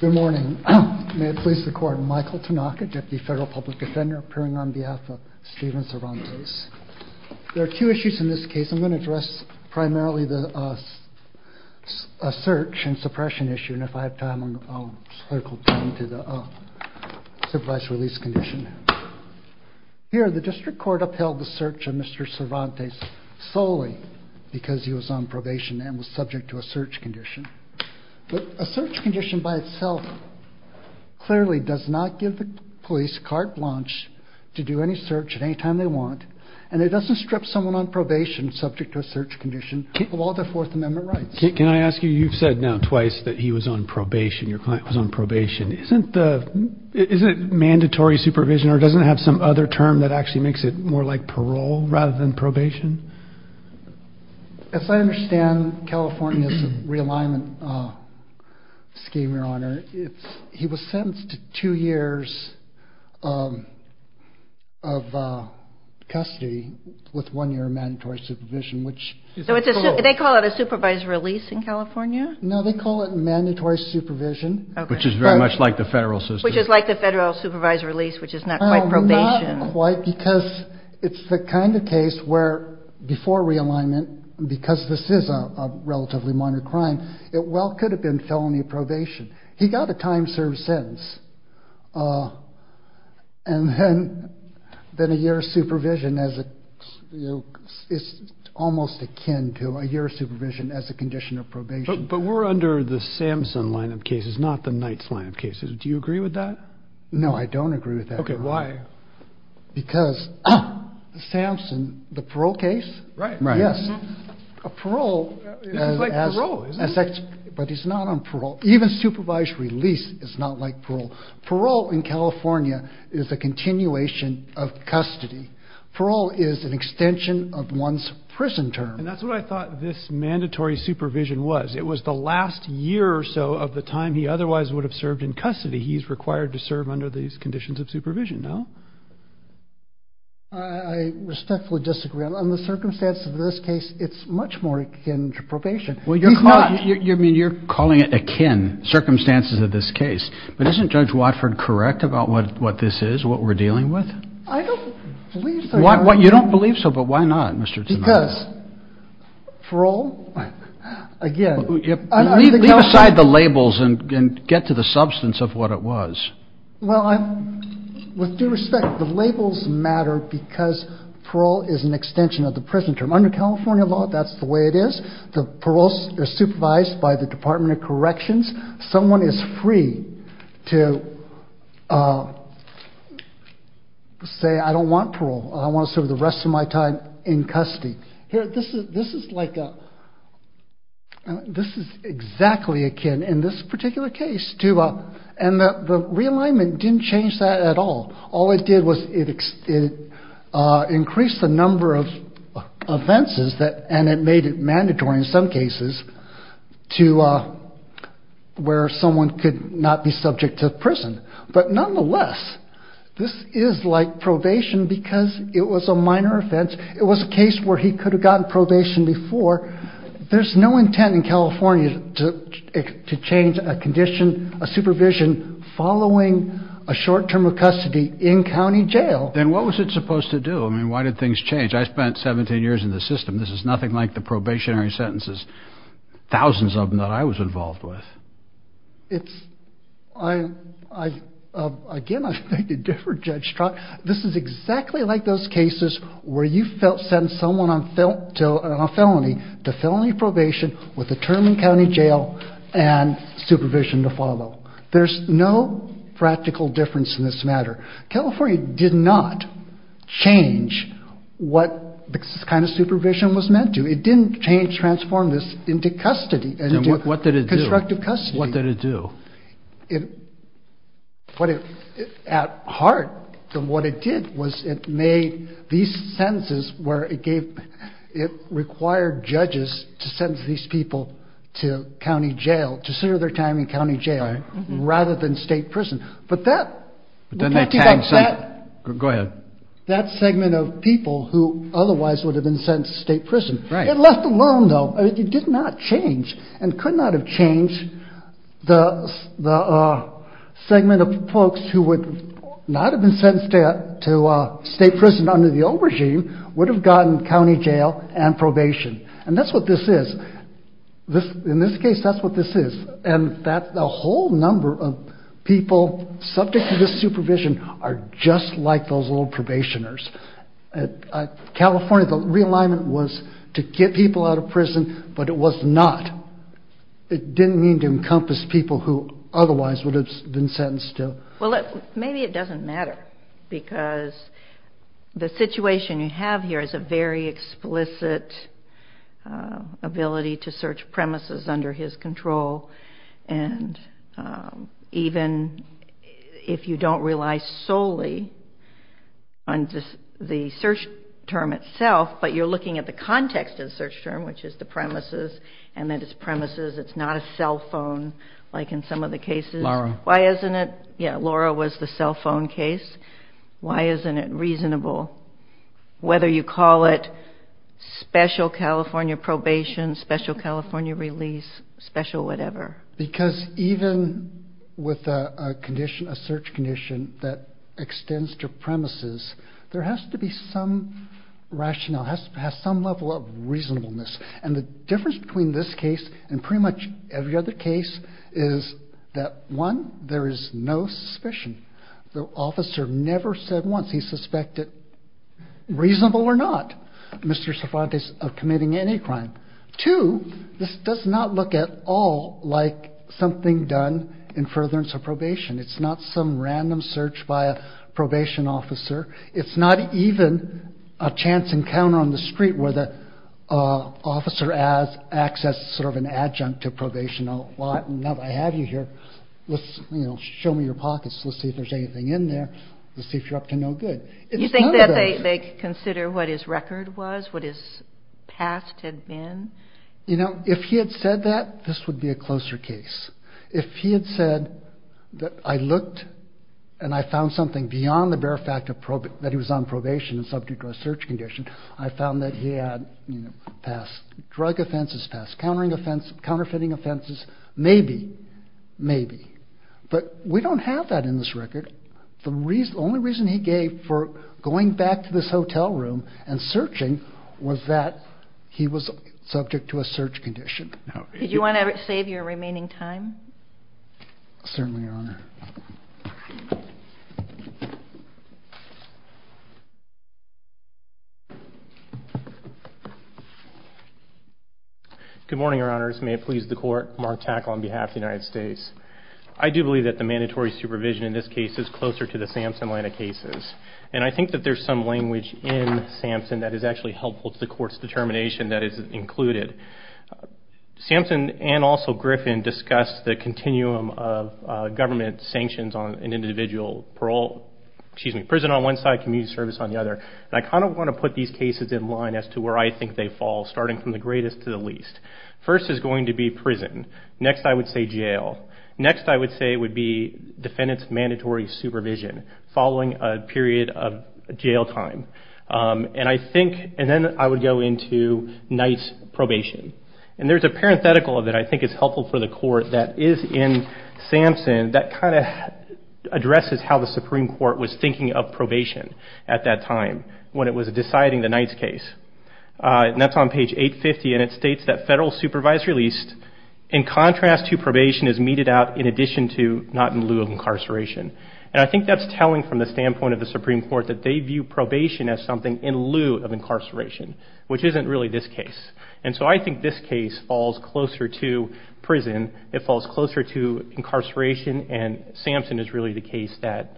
Good morning. May it please the court, Michael Tanaka, Deputy Federal Public Defender, appearing on behalf of Steven Cervantes. There are two issues in this case. I'm going to address primarily the search and suppression issue, and if I have time I'll circle back to the supervised release condition. Here, the district court upheld the search of Mr. Cervantes solely because he was on probation and was subject to a search condition. A search condition by itself clearly does not give the police carte blanche to do any search at any time they want, and it doesn't strip someone on probation subject to a search condition of all their Fourth Amendment rights. Can I ask you, you've said now twice that he was on probation, your client was on probation. Isn't it mandatory supervision or doesn't it have some other term that actually makes it more like parole rather than probation? As I understand, California's realignment scheme, Your Honor, he was sentenced to two years of custody with one year of mandatory supervision. So they call it a supervised release in California? No, they call it mandatory supervision. Which is very much like the federal system. Which is like the federal supervised release, which is not quite probation. Not quite, because it's the kind of case where before realignment, because this is a relatively minor crime, it well could have been felony probation. He got a time served sentence, and then a year of supervision is almost akin to a year of supervision as a condition of probation. But we're under the Samson line of cases, not the Knights line of cases. Do you agree with that? No, I don't agree with that. Okay, why? Because the Samson, the parole case? Right. Yes. Parole. It's like parole, isn't it? But it's not on parole. Even supervised release is not like parole. Parole in California is a continuation of custody. Parole is an extension of one's prison term. And that's what I thought this mandatory supervision was. It was the last year or so of the time he otherwise would have served in custody. He's required to serve under these conditions of supervision, no? I respectfully disagree. On the circumstance of this case, it's much more akin to probation. Well, you're calling it akin, circumstances of this case. But isn't Judge Watford correct about what this is, what we're dealing with? I don't believe so, Your Honor. You don't believe so? But why not, Mr. Tsenada? Because parole, again. Leave aside the labels and get to the substance of what it was. Well, with due respect, the labels matter because parole is an extension of the prison term. Under California law, that's the way it is. The parole is supervised by the Department of Corrections. Someone is free to say, I don't want parole. I want to serve the rest of my time in custody. This is exactly akin in this particular case. And the realignment didn't change that at all. All it did was it increased the number of offenses, and it made it mandatory in some cases, to where someone could not be subject to prison. But nonetheless, this is like probation because it was a minor offense. It was a case where he could have gotten probation before. Therefore, there's no intent in California to change a condition, a supervision, following a short term of custody in county jail. Then what was it supposed to do? I mean, why did things change? I spent 17 years in the system. This is nothing like the probationary sentences, thousands of them that I was involved with. Again, I thank you, Judge Strzok. This is exactly like those cases where you send someone on felony to felony probation with a term in county jail and supervision to follow. There's no practical difference in this matter. California did not change what this kind of supervision was meant to. It didn't transform this into custody, into constructive custody. Then what did it do? At heart, what it did was it made these sentences where it required judges to sentence these people to county jail, to serve their time in county jail, rather than state prison. Go ahead. That segment of people who otherwise would have been sentenced to state prison. It left alone, though. It did not change and could not have changed the segment of folks who would not have been sentenced to state prison under the old regime would have gotten county jail and probation. That's what this is. In this case, that's what this is. The whole number of people subject to this supervision are just like those old probationers. California, the realignment was to get people out of prison, but it was not. It didn't mean to encompass people who otherwise would have been sentenced to. Maybe it doesn't matter because the situation you have here is a very explicit ability to search premises under his control. Even if you don't rely solely on the search term itself, but you're looking at the context of the search term, which is the premises, and that it's premises, it's not a cell phone like in some of the cases. Laura. Why isn't it? Yeah, Laura was the cell phone case. Why isn't it reasonable? Whether you call it special California probation, special California release, special whatever. Because even with a search condition that extends to premises, there has to be some rationale, has to have some level of reasonableness. And the difference between this case and pretty much every other case is that, one, there is no suspicion. The officer never said once he suspected, reasonable or not, Mr. Cervantes of committing any crime. Two, this does not look at all like something done in furtherance of probation. It's not some random search by a probation officer. It's not even a chance encounter on the street where the officer acts as sort of an adjunct to probation. Now that I have you here, show me your pockets. Let's see if there's anything in there. Let's see if you're up to no good. It's none of those. Did they consider what his record was, what his past had been? You know, if he had said that, this would be a closer case. If he had said that I looked and I found something beyond the bare fact that he was on probation and subject to a search condition, I found that he had passed drug offenses, passed counterfeiting offenses, maybe, maybe. But we don't have that in this record. The only reason he gave for going back to this hotel room and searching was that he was subject to a search condition. Did you want to save your remaining time? Certainly, Your Honor. Good morning, Your Honors. May it please the Court, Mark Tack on behalf of the United States. I do believe that the mandatory supervision in this case is closer to the Sampson line of cases. And I think that there's some language in Sampson that is actually helpful to the Court's determination that is included. Sampson and also Griffin discussed the continuum of government sanctions on an individual, parole, excuse me, prison on one side, community service on the other. And I kind of want to put these cases in line as to where I think they fall, starting from the greatest to the least. First is going to be prison. Next I would say jail. Next I would say it would be defendant's mandatory supervision following a period of jail time. And I think, and then I would go into Knight's probation. And there's a parenthetical that I think is helpful for the Court that is in Sampson that kind of addresses how the Supreme Court was thinking of probation at that time when it was deciding the Knight's case. And that's on page 850. And it states that federal supervisory lease, in contrast to probation, is meted out in addition to not in lieu of incarceration. And I think that's telling from the standpoint of the Supreme Court that they view probation as something in lieu of incarceration, which isn't really this case. And so I think this case falls closer to prison. It falls closer to incarceration. And Sampson is really the case that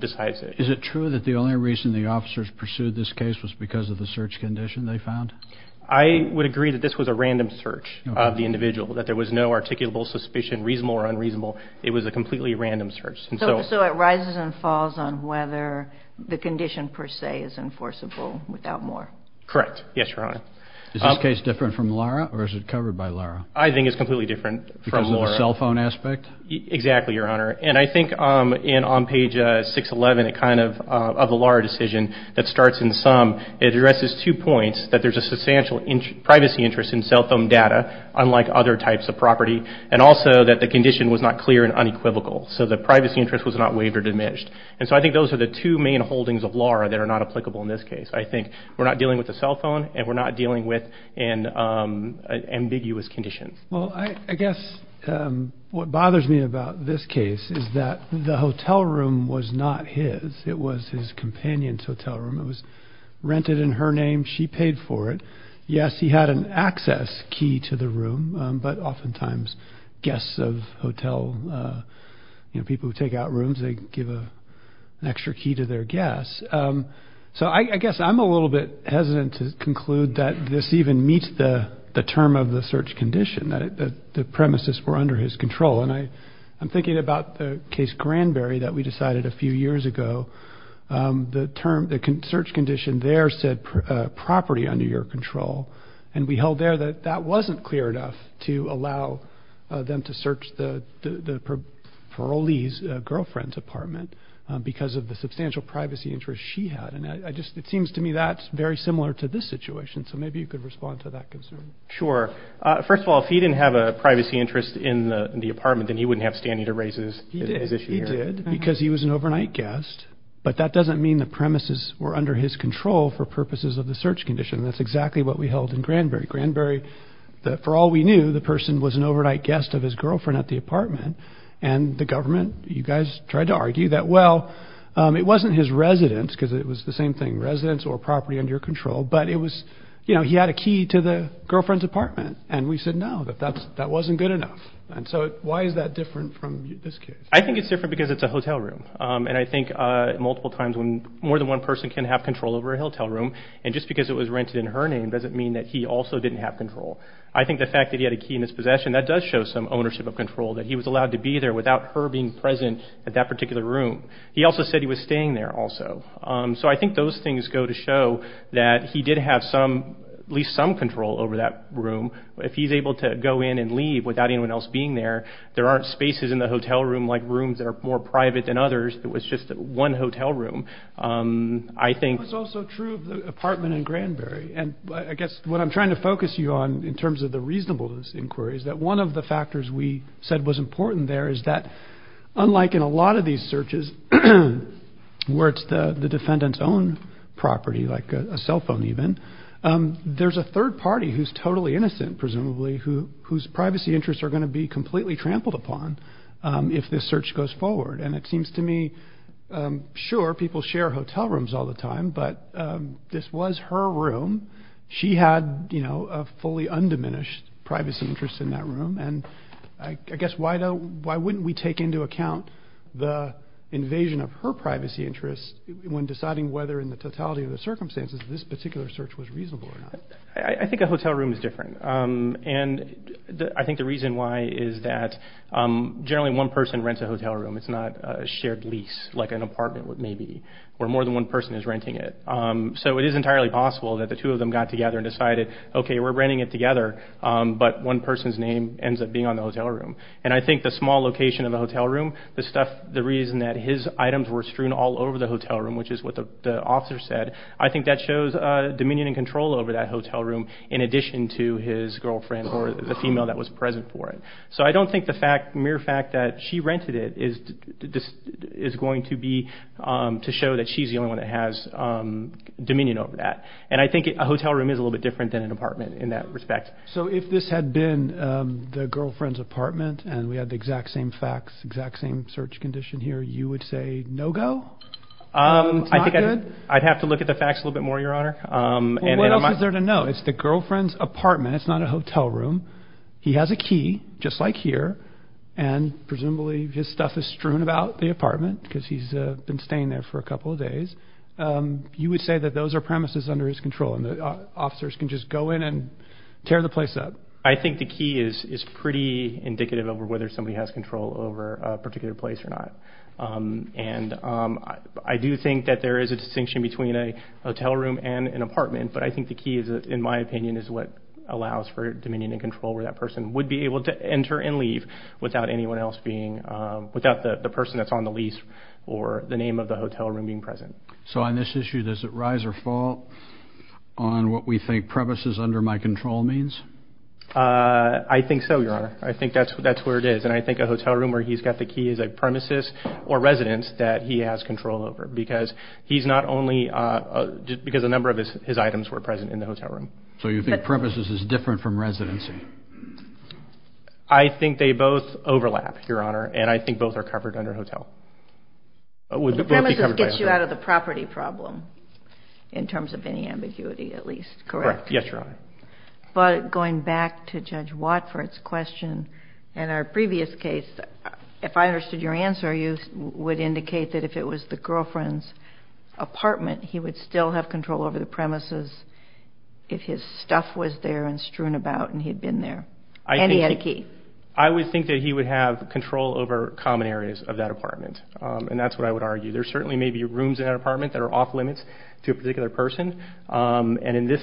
decides it. Is it true that the only reason the officers pursued this case was because of the search condition they found? I would agree that this was a random search of the individual, that there was no articulable suspicion, reasonable or unreasonable. It was a completely random search. So it rises and falls on whether the condition per se is enforceable without more. Correct. Yes, Your Honor. Is this case different from Lara or is it covered by Lara? I think it's completely different from Lara. Because of the cell phone aspect? Exactly, Your Honor. And I think on page 611 of the Lara decision that starts in sum, it addresses two points, that there's a substantial privacy interest in cell phone data, unlike other types of property, and also that the condition was not clear and unequivocal. So the privacy interest was not waived or diminished. And so I think those are the two main holdings of Lara that are not applicable in this case. I think we're not dealing with a cell phone and we're not dealing with an ambiguous condition. Well, I guess what bothers me about this case is that the hotel room was not his. It was his companion's hotel room. It was rented in her name. She paid for it. Yes, he had an access key to the room, but oftentimes guests of hotel, people who take out rooms, they give an extra key to their guests. So I guess I'm a little bit hesitant to conclude that this even meets the term of the search condition, that the premises were under his control. And I'm thinking about the case Granberry that we decided a few years ago. The search condition there said property under your control, and we held there that that wasn't clear enough to allow them to search the parolee's girlfriend's apartment because of the substantial privacy interest she had. And it seems to me that's very similar to this situation. So maybe you could respond to that concern. Sure. First of all, if he didn't have a privacy interest in the apartment, then he wouldn't have standing to raise his issue here. He did, because he was an overnight guest. But that doesn't mean the premises were under his control for purposes of the search condition. That's exactly what we held in Granberry. Granberry, for all we knew, the person was an overnight guest of his girlfriend at the apartment. And the government, you guys tried to argue that, well, it wasn't his residence, because it was the same thing, residence or property under your control, but it was, you know, he had a key to the girlfriend's apartment. And we said no, that that wasn't good enough. And so why is that different from this case? I think it's different because it's a hotel room. And I think multiple times when more than one person can have control over a hotel room, and just because it was rented in her name doesn't mean that he also didn't have control. I think the fact that he had a key in his possession, that does show some ownership of control, that he was allowed to be there without her being present at that particular room. He also said he was staying there also. So I think those things go to show that he did have some, at least some control over that room. If he's able to go in and leave without anyone else being there, there aren't spaces in the hotel room like rooms that are more private than others. It was just one hotel room. It's also true of the apartment in Granberry. And I guess what I'm trying to focus you on in terms of the reasonableness of this inquiry is that one of the factors we said was important there is that unlike in a lot of these searches, where it's the defendant's own property, like a cell phone even, there's a third party who's totally innocent, presumably, whose privacy interests are going to be completely trampled upon if this search goes forward. And it seems to me, sure, people share hotel rooms all the time, but this was her room. She had a fully undiminished privacy interest in that room. And I guess why wouldn't we take into account the invasion of her privacy interest when deciding whether in the totality of the circumstances this particular search was reasonable or not? I think a hotel room is different. And I think the reason why is that generally one person rents a hotel room. It's not a shared lease like an apartment maybe where more than one person is renting it. So it is entirely possible that the two of them got together and decided, okay, we're renting it together, but one person's name ends up being on the hotel room. And I think the small location of the hotel room, the reason that his items were strewn all over the hotel room, which is what the officer said, I think that shows dominion and control over that hotel room in addition to his girlfriend or the female that was present for it. So I don't think the mere fact that she rented it is going to be to show that she's the only one that has dominion over that. And I think a hotel room is a little bit different than an apartment in that respect. So if this had been the girlfriend's apartment and we had the exact same facts, exact same search condition here, you would say no go? I think I'd have to look at the facts a little bit more, Your Honor. What else is there to know? It's the girlfriend's apartment. It's not a hotel room. He has a key, just like here, and presumably his stuff is strewn about the apartment because he's been staying there for a couple of days. You would say that those are premises under his control and the officers can just go in and tear the place up. I think the key is pretty indicative of whether somebody has control over a particular place or not. And I do think that there is a distinction between a hotel room and an apartment, but I think the key, in my opinion, is what allows for dominion and control where that person would be able to enter and leave without anyone else being, without the person that's on the lease or the name of the hotel room being present. So on this issue, does it rise or fall on what we think premises under my control means? I think so, Your Honor. I think that's where it is, and I think a hotel room where he's got the key is a premises or residence that he has control over because he's not only, because a number of his items were present in the hotel room. So you think premises is different from residency? I think they both overlap, Your Honor, and I think both are covered under hotel. The premises gets you out of the property problem in terms of any ambiguity at least, correct? Correct. Yes, Your Honor. But going back to Judge Watford's question, in our previous case, if I understood your answer, you would indicate that if it was the girlfriend's apartment, he would still have control over the premises if his stuff was there and strewn about and he had been there, and he had a key. I would think that he would have control over common areas of that apartment, and that's what I would argue. There certainly may be rooms in that apartment that are off-limits to a particular person, and in this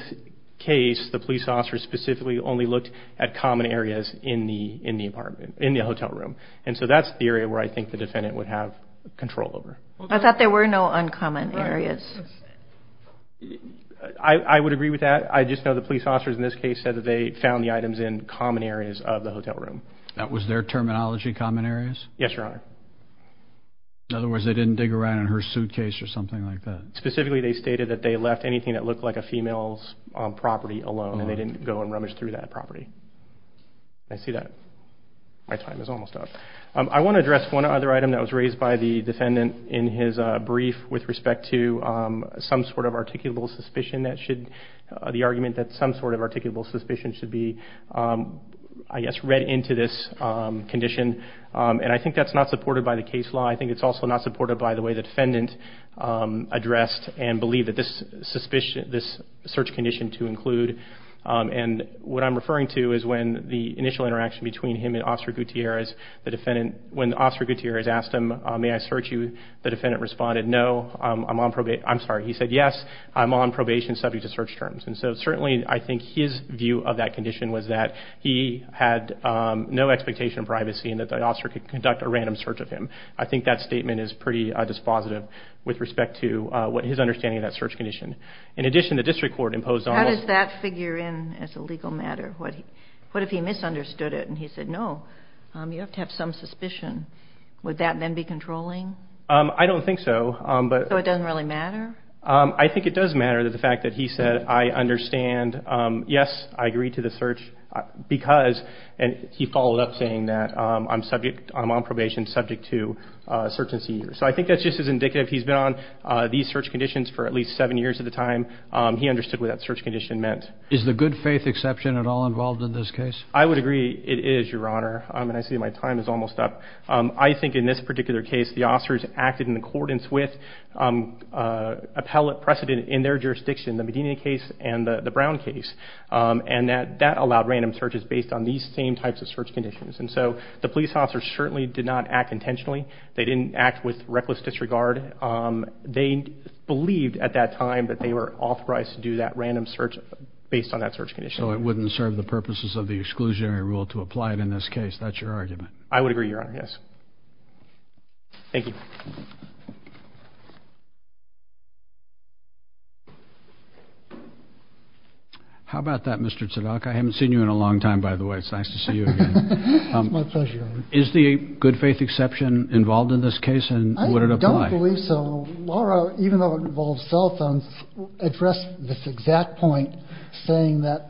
case, the police officer specifically only looked at common areas in the hotel room, and so that's the area where I think the defendant would have control over. I thought there were no uncommon areas. I would agree with that. I just know the police officers in this case said that they found the items in common areas of the hotel room. That was their terminology, common areas? Yes, Your Honor. In other words, they didn't dig around in her suitcase or something like that? Specifically, they stated that they left anything that looked like a female's property alone, and they didn't go and rummage through that property. I see that my time is almost up. I want to address one other item that was raised by the defendant in his brief with respect to some sort of articulable suspicion that should be read into this condition, and I think that's not supported by the case law. I think it's also not supported by the way the defendant addressed and believed that this search condition to include, and what I'm referring to is when the initial interaction between him and Officer Gutierrez, when Officer Gutierrez asked him, may I search you, the defendant responded, no, I'm on probation. I'm sorry, he said, yes, I'm on probation subject to search terms, and so certainly I think his view of that condition was that he had no expectation of privacy and that the officer could conduct a random search of him. I think that statement is pretty dispositive with respect to his understanding of that search condition. In addition, the district court imposed almost How does that figure in as a legal matter? What if he misunderstood it and he said, no, you have to have some suspicion? Would that then be controlling? I don't think so. So it doesn't really matter? I think it does matter that the fact that he said, I understand, yes, I agree to the search, because he followed up saying that I'm on probation subject to search and seizure. So I think that's just as indicative. He's been on these search conditions for at least seven years at the time. He understood what that search condition meant. Is the good faith exception at all involved in this case? I would agree it is, Your Honor, and I see my time is almost up. I think in this particular case the officers acted in accordance with appellate precedent in their jurisdiction, the Medina case and the Brown case, and that that allowed random searches based on these same types of search conditions. And so the police officers certainly did not act intentionally. They didn't act with reckless disregard. They believed at that time that they were authorized to do that random search based on that search condition. So it wouldn't serve the purposes of the exclusionary rule to apply it in this case. That's your argument. I would agree, Your Honor, yes. Thank you. Thank you. How about that, Mr. Tzadok? I haven't seen you in a long time, by the way. It's nice to see you again. It's my pleasure, Your Honor. Is the good faith exception involved in this case and would it apply? I don't believe so. Laura, even though it involves cell phones, addressed this exact point, saying that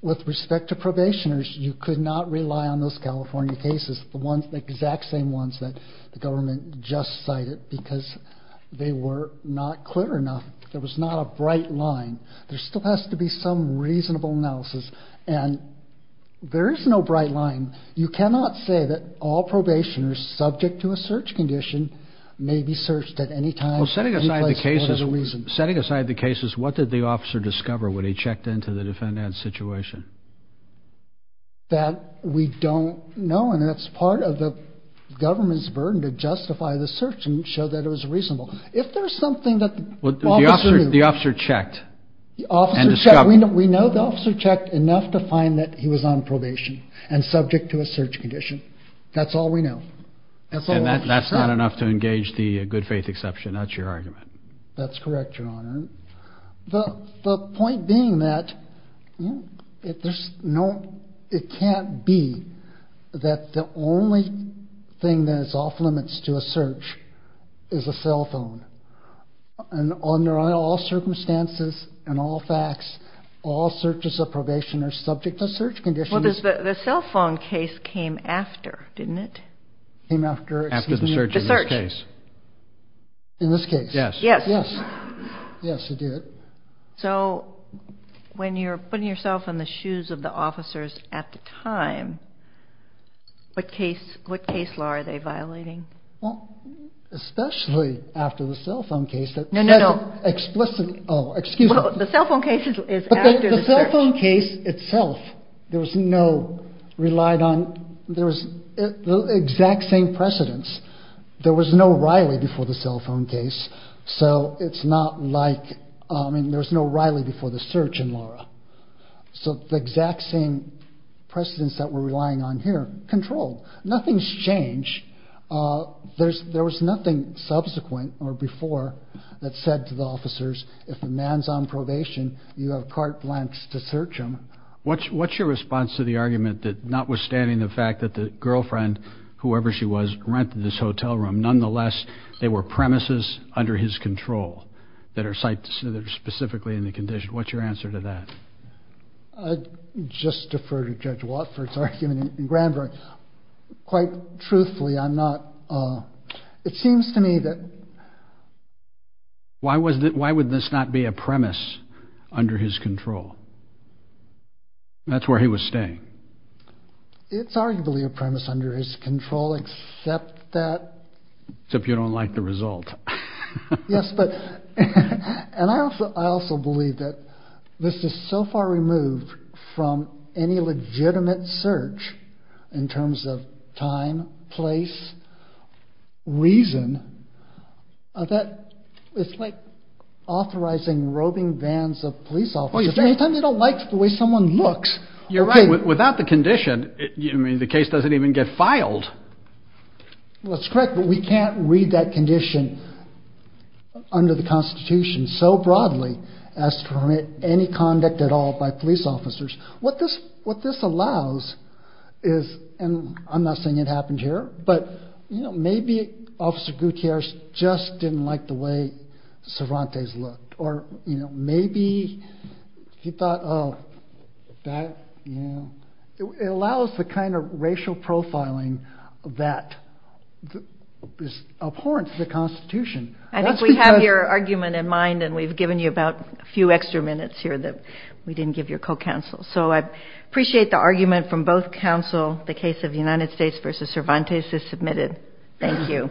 with respect to probationers you could not rely on those California cases, the exact same ones that the government just cited because they were not clear enough. There was not a bright line. There still has to be some reasonable analysis, and there is no bright line. You cannot say that all probationers subject to a search condition may be searched at any time. Setting aside the cases, what did the officer discover when he checked into the defendant's situation? That we don't know, and that's part of the government's burden to justify the search and show that it was reasonable. If there's something that the officer knew. The officer checked and discovered. We know the officer checked enough to find that he was on probation and subject to a search condition. That's all we know. And that's not enough to engage the good faith exception. That's your argument. That's correct, Your Honor. The point being that it can't be that the only thing that is off limits to a search is a cell phone. Under all circumstances and all facts, all searches of probation are subject to search conditions. Well, the cell phone case came after, didn't it? Came after the search in this case. In this case. Yes. Yes. Yes, it did. So when you're putting yourself in the shoes of the officers at the time, what case law are they violating? Well, especially after the cell phone case. No, no, no. Explicitly. Oh, excuse me. The cell phone case is after the search. But the cell phone case itself, there was no relied on. There was the exact same precedence. There was no Riley before the cell phone case. So it's not like, I mean, there was no Riley before the search in Laura. So the exact same precedence that we're relying on here. Control. Nothing's changed. There was nothing subsequent or before that said to the officers, if a man's on probation, you have carte blanche to search him. What's your response to the argument that notwithstanding the fact that the girlfriend, whoever she was, rented this hotel room. Nonetheless, there were premises under his control that are specifically in the condition. What's your answer to that? I just defer to Judge Watford's argument. Quite truthfully, I'm not. It seems to me that. Why was that? Why would this not be a premise under his control? That's where he was staying. It's arguably a premise under his control, except that. Except you don't like the result. Yes, but and I also I also believe that this is so far removed from any legitimate search in terms of time, place, reason. That it's like authorizing robing bands of police officers. Anytime they don't like the way someone looks. You're right. Without the condition. I mean, the case doesn't even get filed. That's correct, but we can't read that condition under the Constitution so broadly as to permit any conduct at all by police officers. What this what this allows is. And I'm not saying it happened here, but maybe Officer Gutierrez just didn't like the way Cervantes looked. Or maybe he thought of that. It allows the kind of racial profiling that is abhorrent to the Constitution. I think we have your argument in mind, and we've given you about a few extra minutes here that we didn't give your co-counsel. So I appreciate the argument from both counsel. The case of the United States versus Cervantes is submitted. Thank you.